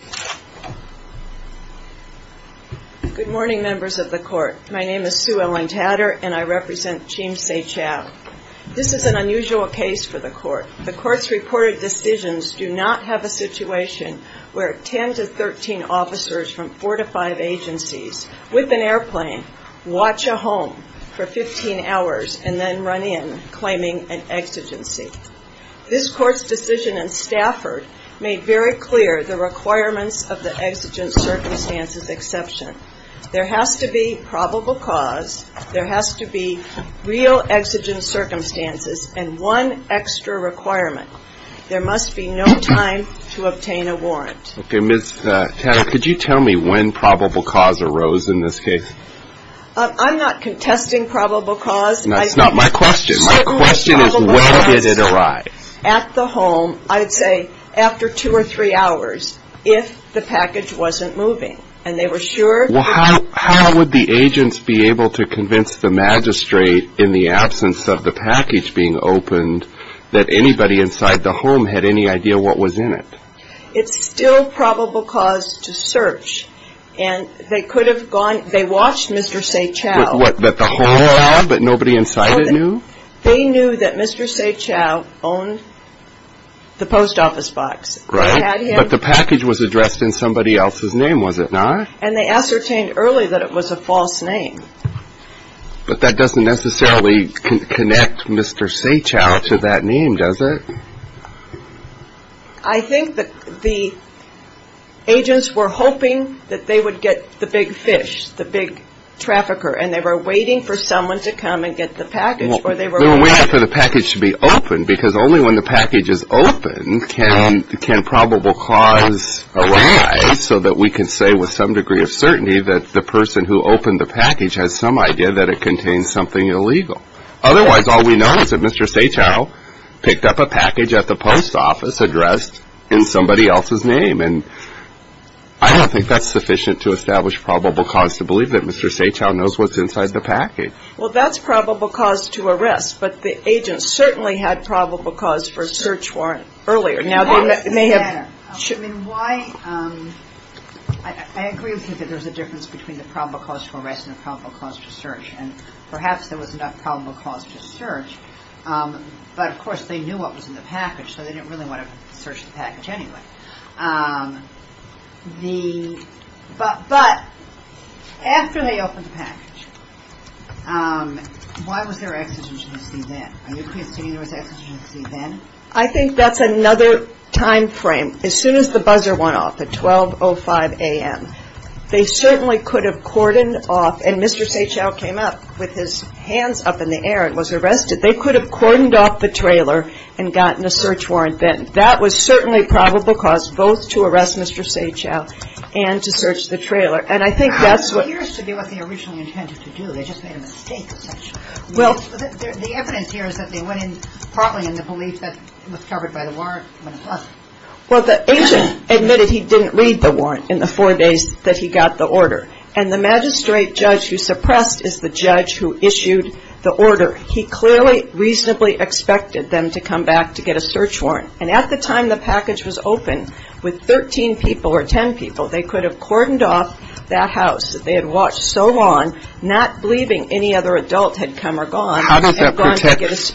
This is an unusual case for the Court. The Court's reported decisions do not have a situation where 10-13 officers from 4-5 agencies, with an airplane, watch a home for 15 hours and then run in claiming an exigency. This Court's decision in Stafford made very clear the requirements of the exigent circumstances exception. There has to be probable cause, there has to be real exigent circumstances, and one extra requirement. There must be no time to obtain a warrant. Okay, Ms. Tanner, could you tell me when probable cause arose in this case? I'm not contesting probable cause. That's not my question. My question is when did it arise? At the home, I would say after two or three hours, if the package wasn't moving. And they were sure. Well, how would the agents be able to convince the magistrate, in the absence of the package being opened, that anybody inside the home had any idea what was in it? It's still probable cause to search. And they could have gone, they watched Mr. Saechao. What, that the home had, but nobody inside it knew? They knew that Mr. Saechao owned the post office box. Right, but the package was addressed in somebody else's name, was it not? And they ascertained early that it was a false name. But that doesn't necessarily connect Mr. Saechao to that name, does it? I think that the agents were hoping that they would get the big fish, the big trafficker. And they were waiting for someone to come and get the package. They were waiting for the package to be opened, because only when the package is opened can probable cause arise, so that we can say with some degree of certainty that the person who opened the package has some idea that it contains something illegal. Otherwise, all we know is that Mr. Saechao picked up a package at the post office addressed in somebody else's name. And I don't think that's sufficient to establish probable cause to believe that Mr. Saechao knows what's inside the package. Well, that's probable cause to arrest. But the agents certainly had probable cause for a search warrant earlier. Now, they may have. I agree with you that there's a difference between the probable cause for arrest and the probable cause for search. And perhaps there was enough probable cause for search. But, of course, they knew what was in the package, so they didn't really want to search the package anyway. But after they opened the package, why was there exigency then? Are you conceding there was exigency then? I think that's another time frame. As soon as the buzzer went off at 12.05 a.m., they certainly could have cordoned off. And Mr. Saechao came up with his hands up in the air and was arrested. They could have cordoned off the trailer and gotten a search warrant then. That was certainly probable cause both to arrest Mr. Saechao and to search the trailer. And I think that's what – It appears to be what they originally intended to do. They just made a mistake essentially. The evidence here is that they went in partly in the belief that it was covered by the warrant. Well, the agent admitted he didn't read the warrant in the four days that he got the order. And the magistrate judge who suppressed is the judge who issued the order. He clearly reasonably expected them to come back to get a search warrant. And at the time the package was opened, with 13 people or 10 people, they could have cordoned off that house that they had watched so long, not believing any other adult had come or gone. How much that protects against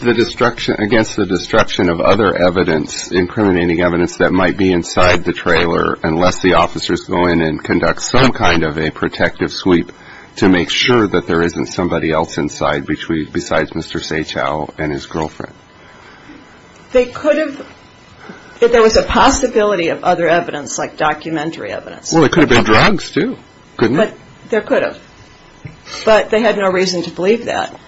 the destruction of other evidence, incriminating evidence that might be inside the trailer, unless the officers go in and conduct some kind of a protective sweep to make sure that there isn't somebody else inside besides Mr. Saechao and his girlfriend. They could have – there was a possibility of other evidence like documentary evidence. Well, it could have been drugs too, couldn't it? There could have. But they had no reason to believe that.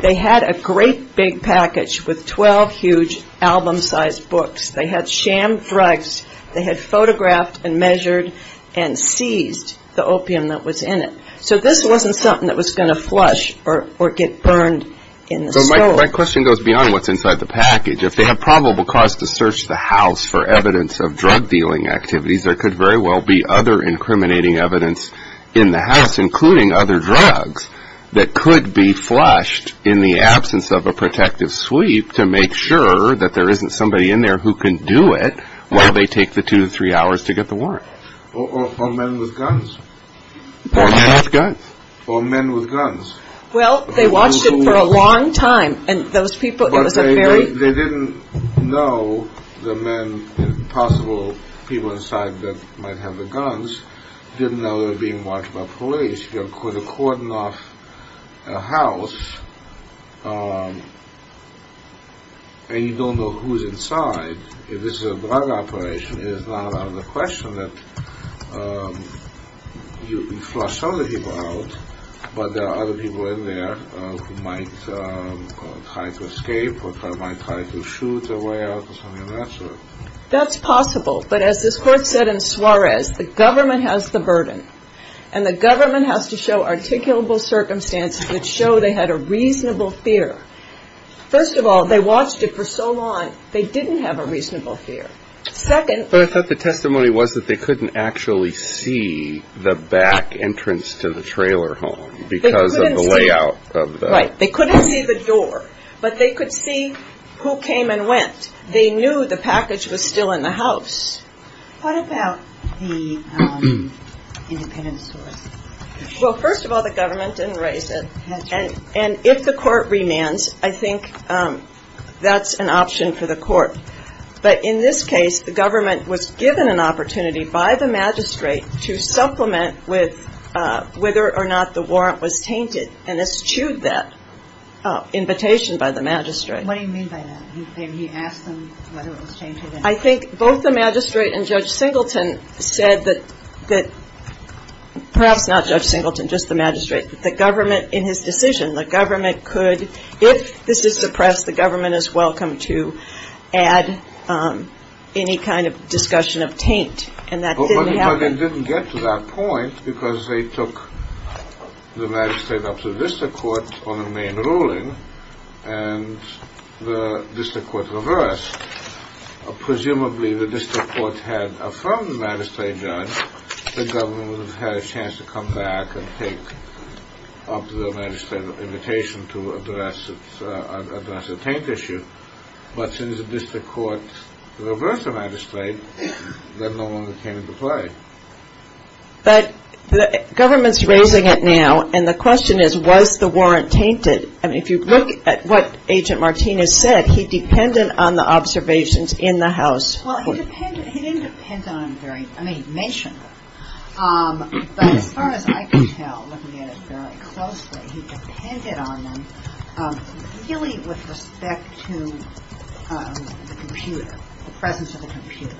They had a great big package with 12 huge album-sized books. They had sham drugs. They had photographed and measured and seized the opium that was in it. So this wasn't something that was going to flush or get burned in the stove. My question goes beyond what's inside the package. If they have probable cause to search the house for evidence of drug-dealing activities, there could very well be other incriminating evidence in the house, including other drugs, that could be flushed in the absence of a protective sweep to make sure that there isn't somebody in there who can do it while they take the two to three hours to get the warrant. Or men with guns. Or men with guns. Or men with guns. Well, they watched it for a long time, and those people – But they didn't know the men, the possible people inside that might have the guns, didn't know they were being watched by police. You could have cordoned off a house, and you don't know who's inside. If this is a drug operation, it is not out of the question that you flush other people out, but there are other people in there who might try to escape or might try to shoot their way out or something of that sort. That's possible, but as this court said in Suarez, the government has the burden, and the government has to show articulable circumstances that show they had a reasonable fear. First of all, they watched it for so long, they didn't have a reasonable fear. But I thought the testimony was that they couldn't actually see the back entrance to the trailer home because of the layout of the – Right. They couldn't see the door, but they could see who came and went. They knew the package was still in the house. What about the independent source? Well, first of all, the government didn't raise it. And if the court remands, I think that's an option for the court. But in this case, the government was given an opportunity by the magistrate to supplement with whether or not the warrant was tainted, and eschewed that invitation by the magistrate. What do you mean by that? He asked them whether it was tainted. I think both the magistrate and Judge Singleton said that – perhaps not Judge Singleton, just the magistrate. The government, in his decision, the government could – any kind of discussion of taint, and that didn't happen. But they didn't get to that point because they took the magistrate up to the district court on the main ruling, and the district court reversed. Presumably, the district court had affirmed the magistrate judge that the government would have had a chance to come back and take up the magistrate's invitation to address the taint issue. But since the district court reversed the magistrate, that no longer came into play. But the government's raising it now, and the question is, was the warrant tainted? I mean, if you look at what Agent Martinez said, he depended on the observations in the House. Well, he didn't depend on them very – I mean, he mentioned them. But as far as I can tell, looking at it very closely, he depended on them really with respect to the computer, the presence of the computer.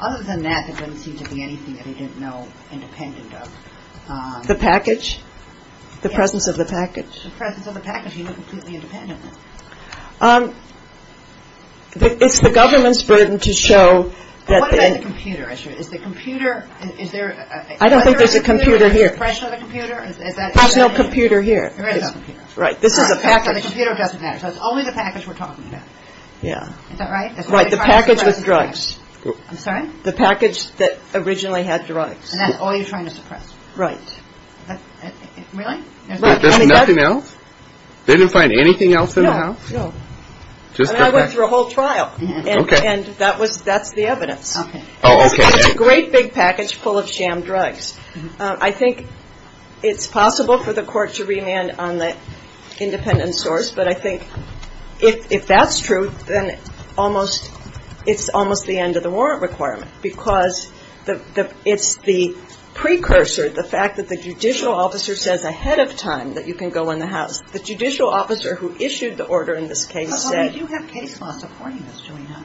Other than that, there didn't seem to be anything that he didn't know independent of. The package? The presence of the package. The presence of the package. He was completely independent of it. It's the government's burden to show that the – What about the computer issue? Is the computer – is there – Is there a computer or suppression of the computer? There's no computer here. There is a computer. Right. This is a package. So the computer doesn't matter. So it's only the package we're talking about. Yeah. Is that right? Right. The package with drugs. I'm sorry? The package that originally had drugs. And that's all you're trying to suppress? Right. Really? Right. There's nothing else? They didn't find anything else in the House? No. No. And I went through a whole trial. Okay. And that was – that's the evidence. Okay. Oh, okay. It's a great big package full of sham drugs. I think it's possible for the court to remand on the independent source, but I think if that's true, then it's almost the end of the warrant requirement because it's the precursor, the fact that the judicial officer says ahead of time that you can go in the House. The judicial officer who issued the order in this case said – But we do have case law supporting this, do we not?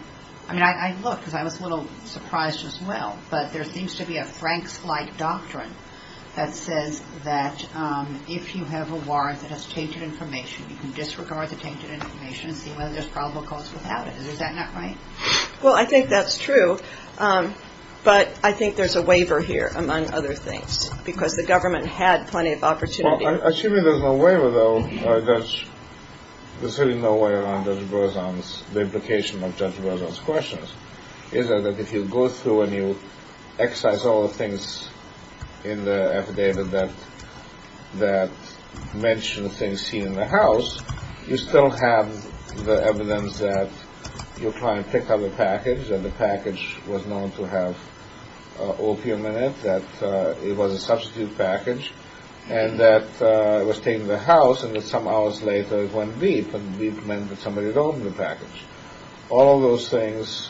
I mean, I looked because I was a little surprised as well, but there seems to be a Frank's-like doctrine that says that if you have a warrant that has tainted information, you can disregard the tainted information and see whether there's probable cause without it. Is that not right? Well, I think that's true, but I think there's a waiver here, among other things, because the government had plenty of opportunity. Well, assuming there's no waiver, though, there's really no way around Judge Berzon's – the implication of Judge Berzon's questions. Is that if you go through and you excise all the things in the affidavit that mention the things seen in the House, you still have the evidence that your client picked up the package and the package was known to have opium in it, that it was a substitute package, and that it was taken to the House and that some hours later it went veep, and veep meant that somebody had opened the package. All of those things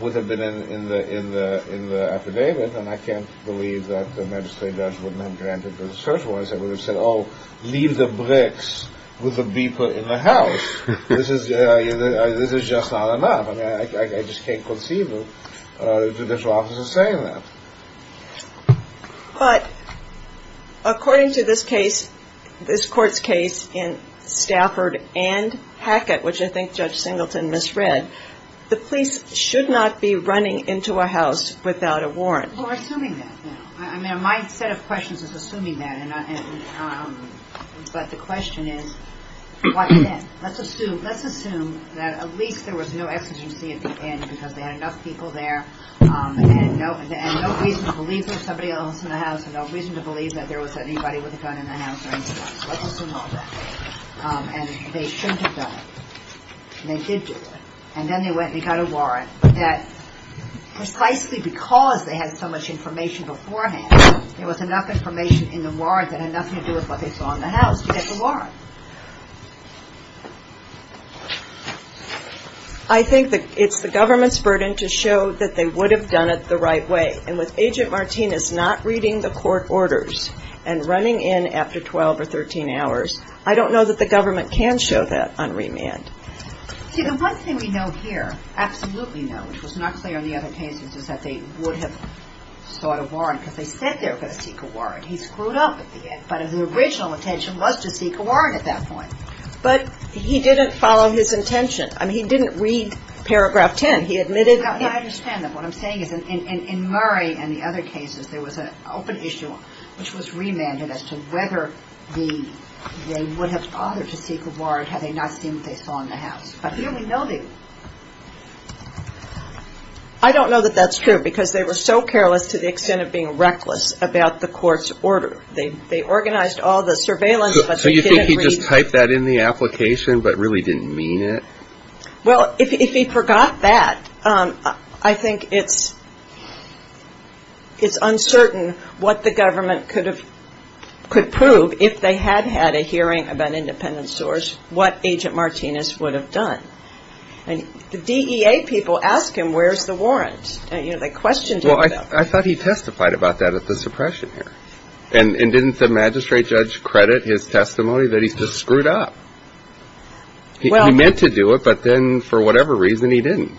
would have been in the affidavit, and I can't believe that the magistrate judge wouldn't have granted the search warrants. They would have said, oh, leave the bricks with the beeper in the House. This is just not enough. I mean, I just can't conceive of judicial officers saying that. But according to this case, this Court's case in Stafford and Hackett, which I think Judge Singleton misread, the police should not be running into a house without a warrant. Well, we're assuming that now. I mean, my set of questions is assuming that. But the question is, what then? Let's assume that at least there was no exigency at the end because they had enough people there and no reason to believe there was somebody else in the House and no reason to believe that there was anybody with a gun in the House. Let's assume all that. And they shouldn't have done it. And they did do it. And then they went and they got a warrant that precisely because they had so much information beforehand, there was enough information in the warrant that had nothing to do with what they saw in the House to get the warrant. I think it's the government's burden to show that they would have done it the right way. And with Agent Martinez not reading the court orders and running in after 12 or 13 hours, I don't know that the government can show that on remand. See, the one thing we know here, absolutely know, which was not clear in the other cases, is that they would have sought a warrant because they said they were going to seek a warrant. He screwed up at the end. But his original intention was to seek a warrant at that point. But he didn't follow his intention. I mean, he didn't read Paragraph 10. He admitted that he... I understand that. What I'm saying is in Murray and the other cases, there was an open issue which was remanded as to whether they would have bothered to seek a warrant had they not seen what they saw in the House. But here we know they... I don't know that that's true because they were so careless to the extent of being reckless about the court's order. They organized all the surveillance, but they didn't read... So you think he just typed that in the application but really didn't mean it? Well, if he forgot that, I think it's uncertain what the government could prove if they had had a hearing about independent source, what Agent Martinez would have done. And the DEA people ask him, where's the warrant? They questioned him about that. Well, I thought he testified about that at the suppression hearing. And didn't the magistrate judge credit his testimony that he just screwed up? He meant to do it, but then for whatever reason, he didn't.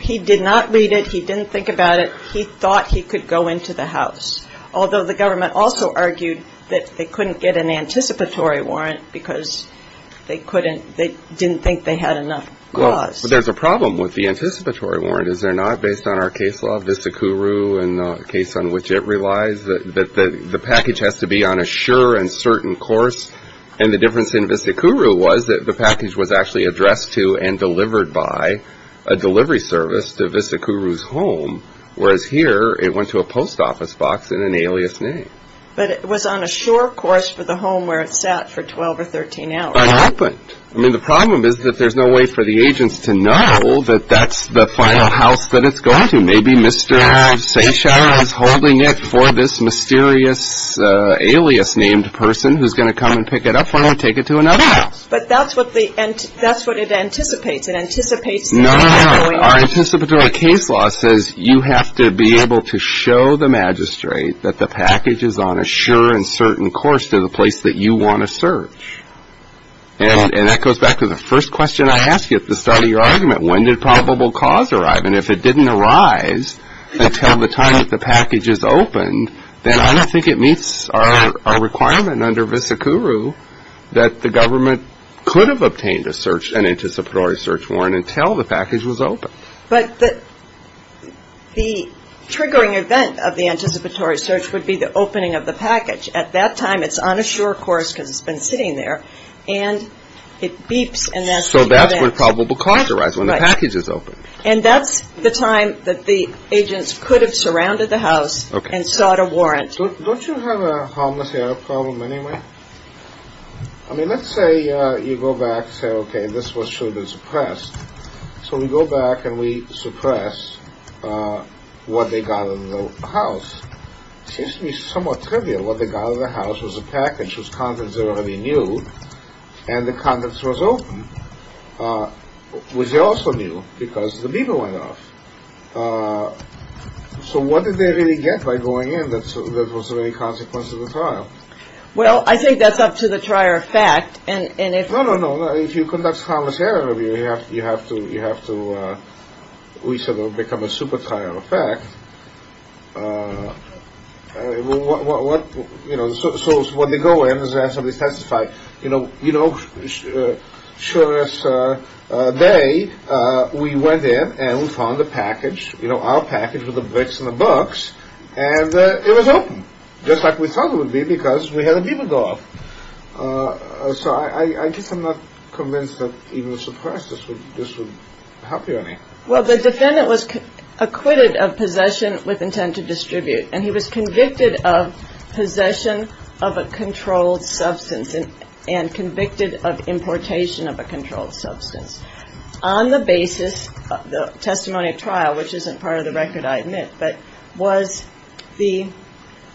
He did not read it. He didn't think about it. He thought he could go into the House, although the government also argued that they couldn't get an anticipatory warrant because they didn't think they had enough clause. Well, there's a problem with the anticipatory warrant, is there not, based on our case law, Vista-Kuru and the case on which it relies, that the package has to be on a sure and certain course and the difference in Vista-Kuru was that the package was actually addressed to and delivered by a delivery service to Vista-Kuru's home, whereas here it went to a post office box in an alias name. But it was on a sure course for the home where it sat for 12 or 13 hours. But it happened. I mean, the problem is that there's no way for the agents to know that that's the final house that it's going to. Maybe Mr. Seyshire is holding it for this mysterious alias-named person who's going to come and pick it up for him and take it to another house. But that's what it anticipates. It anticipates the anticipatory. No, no, no. Our anticipatory case law says you have to be able to show the magistrate that the package is on a sure and certain course to the place that you want to search. And that goes back to the first question I asked you at the start of your argument. When did probable cause arrive? And if it didn't arise until the time that the package is opened, then I don't think it meets our requirement under vis a curu that the government could have obtained an anticipatory search warrant until the package was open. But the triggering event of the anticipatory search would be the opening of the package. At that time, it's on a sure course because it's been sitting there, and it beeps. So that's when probable cause arrives, when the package is opened. Don't you have a harmless error problem anyway? I mean, let's say you go back and say, okay, this was surely suppressed. So we go back and we suppress what they got in the house. It seems to me somewhat trivial. What they got in the house was a package whose contents they already knew, and the contents was open, which they also knew because the beeper went off. So what did they really get by going in that wasn't any consequence of the trial? Well, I think that's up to the trier effect. No, no, no. If you conduct harmless error, you have to, we say, become a super-trier effect. So what they go in is they ask somebody to testify. You know, sure as day, we went in and we found the package, our package with the bricks and the books, and it was open, just like we thought it would be because we had the beeper go off. So I guess I'm not convinced that even suppressing this would help you in any way. Well, the defendant was acquitted of possession with intent to distribute, and he was convicted of possession of a controlled substance and convicted of importation of a controlled substance. On the basis of the testimony of trial, which isn't part of the record, I admit, but was the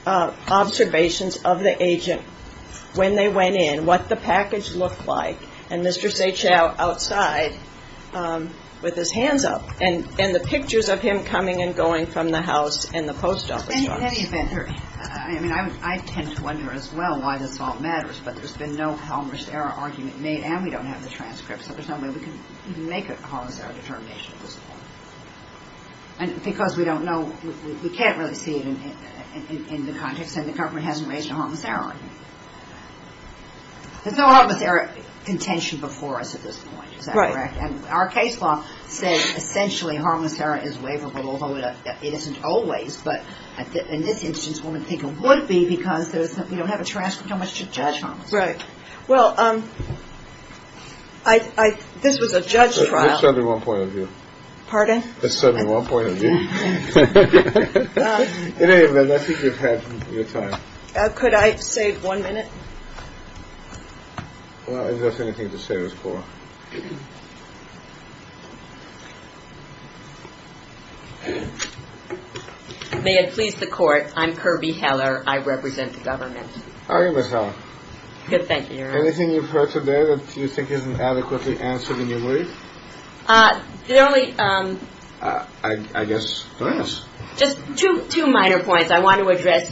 observations of the agent when they went in, what the package looked like, and Mr. Sehchao outside with his hands up, and the pictures of him coming and going from the house and the post office. I tend to wonder as well why this all matters, but there's been no harmless error argument made, and we don't have the transcripts, so there's no way we can make a harmless error determination at this point. And because we don't know, we can't really see it in the context, and the government hasn't raised a harmless error argument. There's no harmless error contention before us at this point. Is that correct? And our case law says essentially harmless error is waverable, although it isn't always, but in this instance, one would think it would be because we don't have a transcript, how much to judge harmless error. Right. Well, this was a judge trial. That's certainly one point of view. Pardon? That's certainly one point of view. In any event, I think you've had your time. Could I save one minute? Well, if there's anything to save us for. May it please the court, I'm Kirby Heller. I represent the government. How are you, Ms. Heller? Good, thank you, Your Honor. Anything you've heard today that you think isn't adequately answered in your brief? The only... I guess finance. Just two minor points. I want to address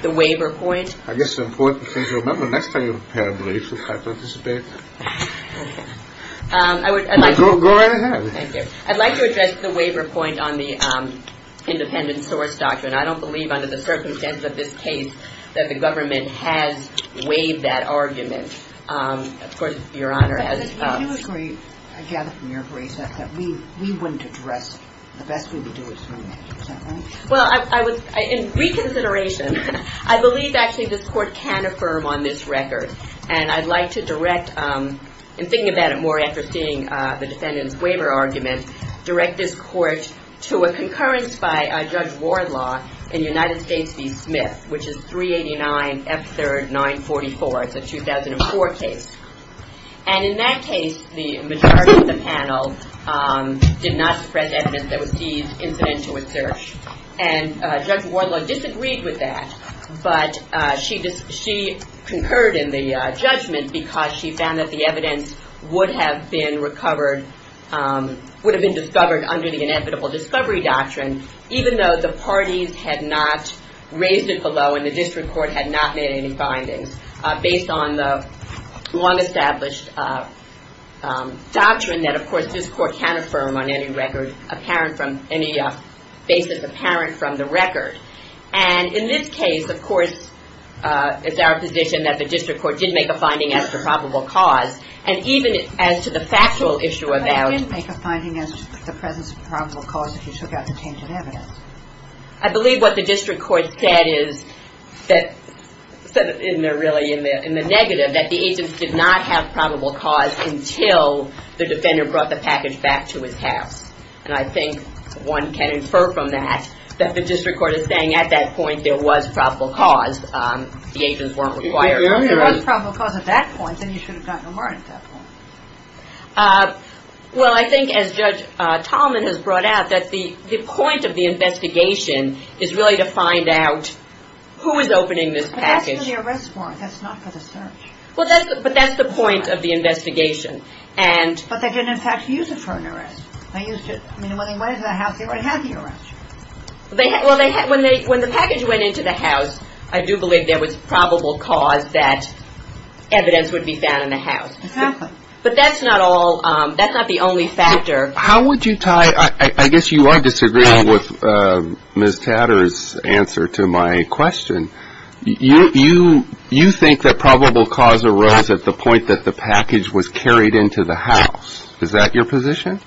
the waiver point. I guess the important thing to remember next time you prepare a brief is to try to participate. Okay. I would like to... Go right ahead. Thank you. I'd like to address the waiver point on the independent source doctrine. I don't believe under the circumstances of this case that the government has waived that argument. Of course, Your Honor, as... I do agree, I gather from your brief, that we wouldn't address it. The best we would do is remove it. Is that right? Well, in reconsideration, I believe actually this court can affirm on this record, and I'd like to direct, in thinking about it more after seeing the defendant's waiver argument, direct this court to a concurrence by Judge Wardlaw in United States v. Smith, which is 389 F. 3rd 944. It's a 2004 case. And in that case, the majority of the panel did not suppress evidence that was deemed incidental with search. And Judge Wardlaw disagreed with that. But she concurred in the judgment because she found that the evidence would have been recovered, would have been discovered under the inevitable discovery doctrine, even though the parties had not raised it below and the district court had not made any findings. Based on the long-established doctrine that, of course, this court can affirm on any record apparent from any basis apparent from the record. And in this case, of course, it's our position that the district court did make a finding as to probable cause. And even as to the factual issue about... But it didn't make a finding as to the presence of probable cause if you took out the tainted evidence. I believe what the district court said is that... And they're really in the negative that the agents did not have probable cause until the defender brought the package back to his house. And I think one can infer from that that the district court is saying at that point there was probable cause. The agents weren't required. If there was probable cause at that point, then you should have gotten a warrant at that point. Well, I think, as Judge Tallman has brought out, that the point of the investigation is really to find out who is opening this package. But that's for the arrest warrant. That's not for the search. But that's the point of the investigation. But they didn't, in fact, use it for an arrest. I mean, when they went into the house, they already had the arrest. Well, when the package went into the house, But that's not all. That's not the only factor. How would you tie... I guess you are disagreeing with Ms. Tatter's answer to my question. You think that probable cause arose at the point that the package was carried into the house. Is that your position?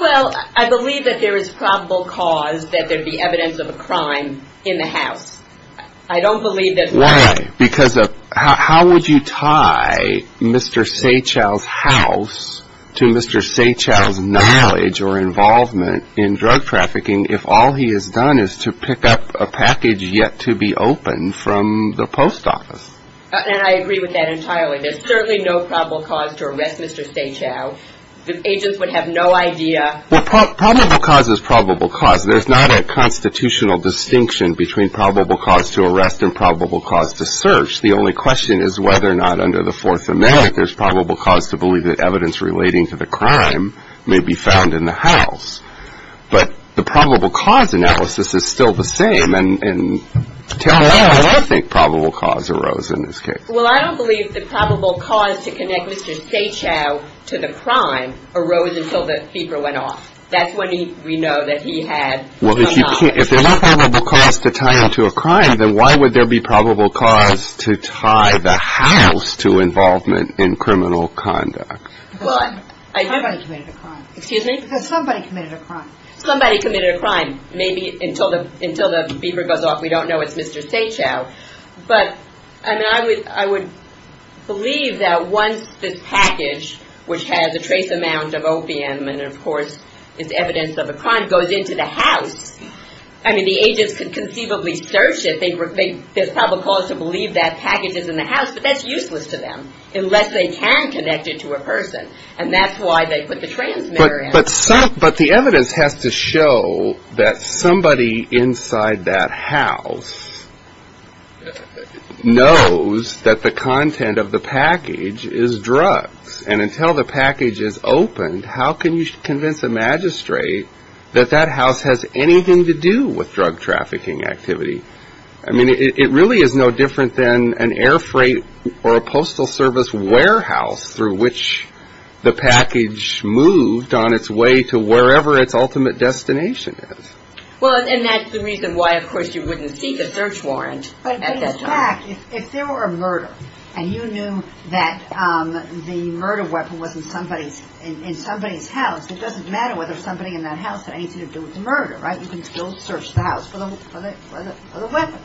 Well, I believe that there is probable cause that there be evidence of a crime in the house. I don't believe that... Why? Because of... How would you tie Mr. Seychell's house to Mr. Seychell's knowledge or involvement in drug trafficking if all he has done is to pick up a package yet to be opened from the post office? And I agree with that entirely. There's certainly no probable cause to arrest Mr. Seychell. The agents would have no idea... Well, probable cause is probable cause. There's not a constitutional distinction between probable cause to arrest and probable cause to search. The only question is whether or not under the Fourth Amendment, there's probable cause to believe that evidence relating to the crime may be found in the house. But the probable cause analysis is still the same. And tell me why I think probable cause arose in this case. Well, I don't believe that probable cause to connect Mr. Seychell to the crime arose until the paper went off. That's when we know that he had no knowledge. Well, if there's no probable cause to tie him to a crime, then why would there be probable cause to tie the house to involvement in criminal conduct? Well, I... Somebody committed a crime. Excuse me? Somebody committed a crime. Somebody committed a crime. Maybe until the paper goes off, we don't know it's Mr. Seychell. But, I mean, I would believe that once this package, which has a trace amount of opium and, of course, is evidence of a crime, goes into the house, I mean, the agents could conceivably search it. There's probable cause to believe that package is in the house, but that's useless to them unless they can connect it to a person. And that's why they put the transmitter in. But the evidence has to show that somebody inside that house knows that the content of the package is drugs. And until the package is opened, how can you convince a magistrate that that house has anything to do with drug trafficking activity? I mean, it really is no different than an air freight or a postal service warehouse through which the package moved on its way to wherever its ultimate destination is. Well, and that's the reason why, of course, you wouldn't seek a search warrant. But in fact, if there were a murder and you knew that the murder weapon was in somebody's house, it doesn't matter whether somebody in that house had anything to do with the murder, right? You can still search the house for the weapon.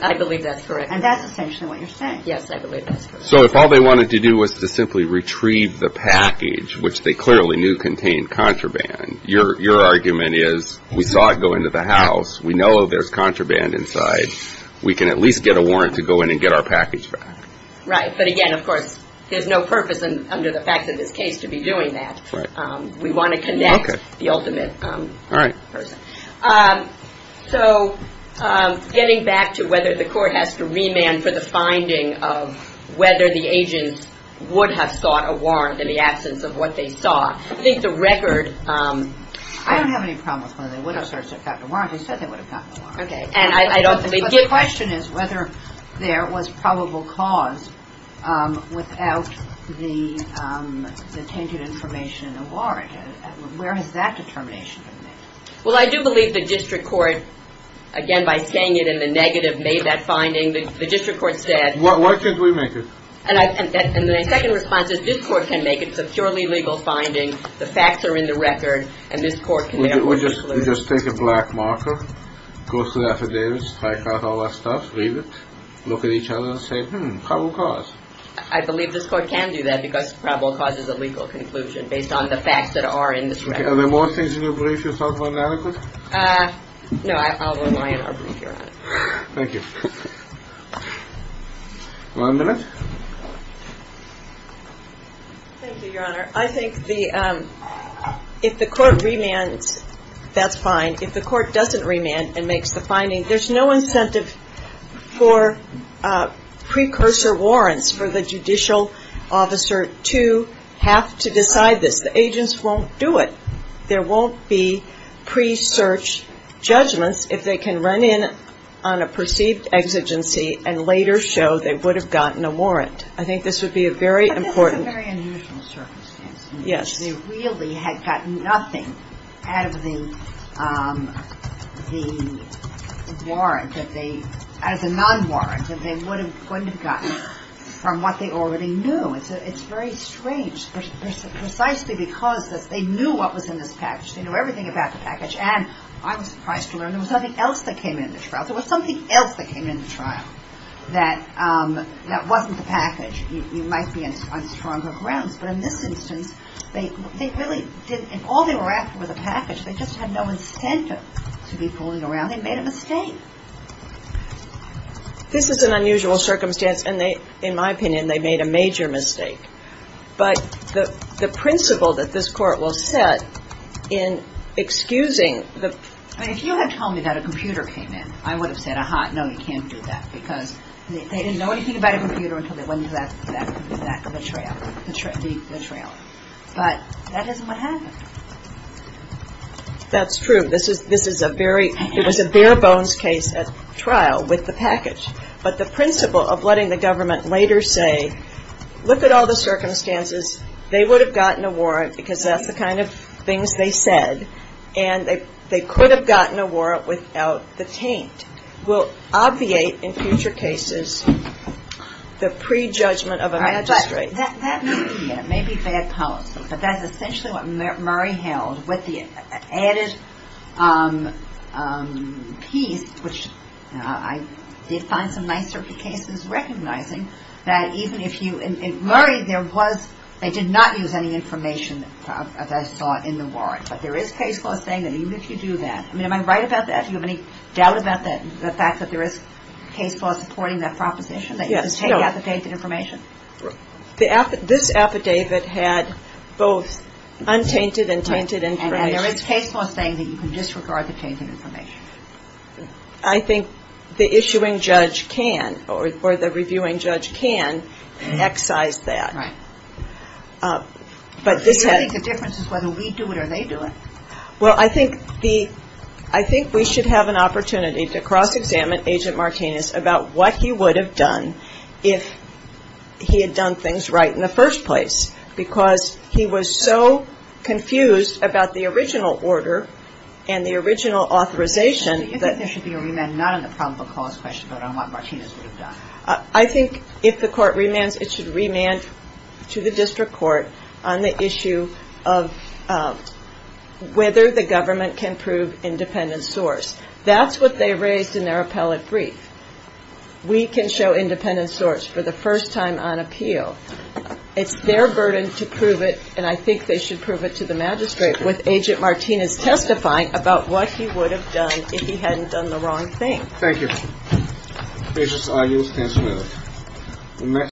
I believe that's correct. And that's essentially what you're saying. Yes, I believe that's correct. So if all they wanted to do was to simply retrieve the package, which they clearly knew contained contraband, your argument is we saw it go into the house. We know there's contraband inside. We can at least get a warrant to go in and get our package back. Right. But again, of course, there's no purpose under the fact of this case to be doing that. We want to connect the ultimate person. So getting back to whether the court has to remand for the finding of whether the agents would have sought a warrant in the absence of what they saw, I think the record. I don't have any problem with whether they would have sought a warrant. They said they would have gotten a warrant. Okay. And I don't think they did. But the question is whether there was probable cause without the tainted information in the warrant. Where has that determination been made? Well, I do believe the district court, again, by saying it in the negative, made that finding. The district court said. Why can't we make it? And the second response is this court can make it. It's a purely legal finding. The facts are in the record. And this court can never conclude. We just take a black marker, go through the affidavits, strike out all that stuff, read it, look at each other and say, hmm, probable cause. I believe this court can do that because probable cause is a legal conclusion based on the facts that are in this record. Okay. Are there more things in your brief you thought were inadequate? No. I'll rely on our brief, Your Honor. Thank you. One minute. Thank you, Your Honor. I think if the court remands, that's fine. If the court doesn't remand and makes the finding, there's no incentive for precursor warrants for the judicial officer to have to decide this. The agents won't do it. There won't be pre-search judgments if they can run in on a perceived exigency and later show they would have gotten a warrant. I think this would be a very important. But it's a very unusual circumstance. Yes. They really had gotten nothing out of the warrant that they – out of the non-warrant that they wouldn't have gotten from what they already knew. It's very strange precisely because they knew what was in this package. They knew everything about the package. And I was surprised to learn there was something else that came in the trial. There was something else that came in the trial that wasn't the package. You might be on stronger grounds. But in this instance, they really didn't – all they were after was a package. They just had no incentive to be fooling around. They made a mistake. This is an unusual circumstance. And they – in my opinion, they made a major mistake. But the principle that this Court will set in excusing the – I mean, if you had told me that a computer came in, I would have said, ah-ha, no, you can't do that. Because they didn't know anything about a computer until they went into the back of the trailer. But that isn't what happened. That's true. This is a very – it was a bare-bones case at trial with the package. But the principle of letting the government later say, look at all the circumstances, they would have gotten a warrant because that's the kind of things they said, and they could have gotten a warrant without the taint, will obviate in future cases the prejudgment of a magistrate. That may be bad policy. But that's essentially what Murray held with the added piece, which I did find some nicer cases recognizing that even if you – in Murray, there was – they did not use any information, as I saw, in the warrant. But there is case law saying that even if you do that – I mean, am I right about that? Do you have any doubt about that, the fact that there is case law supporting that proposition, that you can take out the tainted information? This affidavit had both untainted and tainted information. And there is case law saying that you can disregard the tainted information. I think the issuing judge can, or the reviewing judge can excise that. Right. But this has – Do you think the difference is whether we do it or they do it? Well, I think the – I think we should have an opportunity to cross-examine Agent Martinez about what he would have done if he had done things right in the first place, because he was so confused about the original order and the original authorization. Do you think there should be a remand not on the probable cause question, but on what Martinez would have done? I think if the court remands, it should remand to the district court on the issue of whether the government can prove independent source. That's what they raised in their appellate brief. We can show independent source for the first time on appeal. It's their burden to prove it, and I think they should prove it to the magistrate with Agent Martinez testifying about what he would have done if he hadn't done the wrong thing. Thank you. Agents, I yield the floor.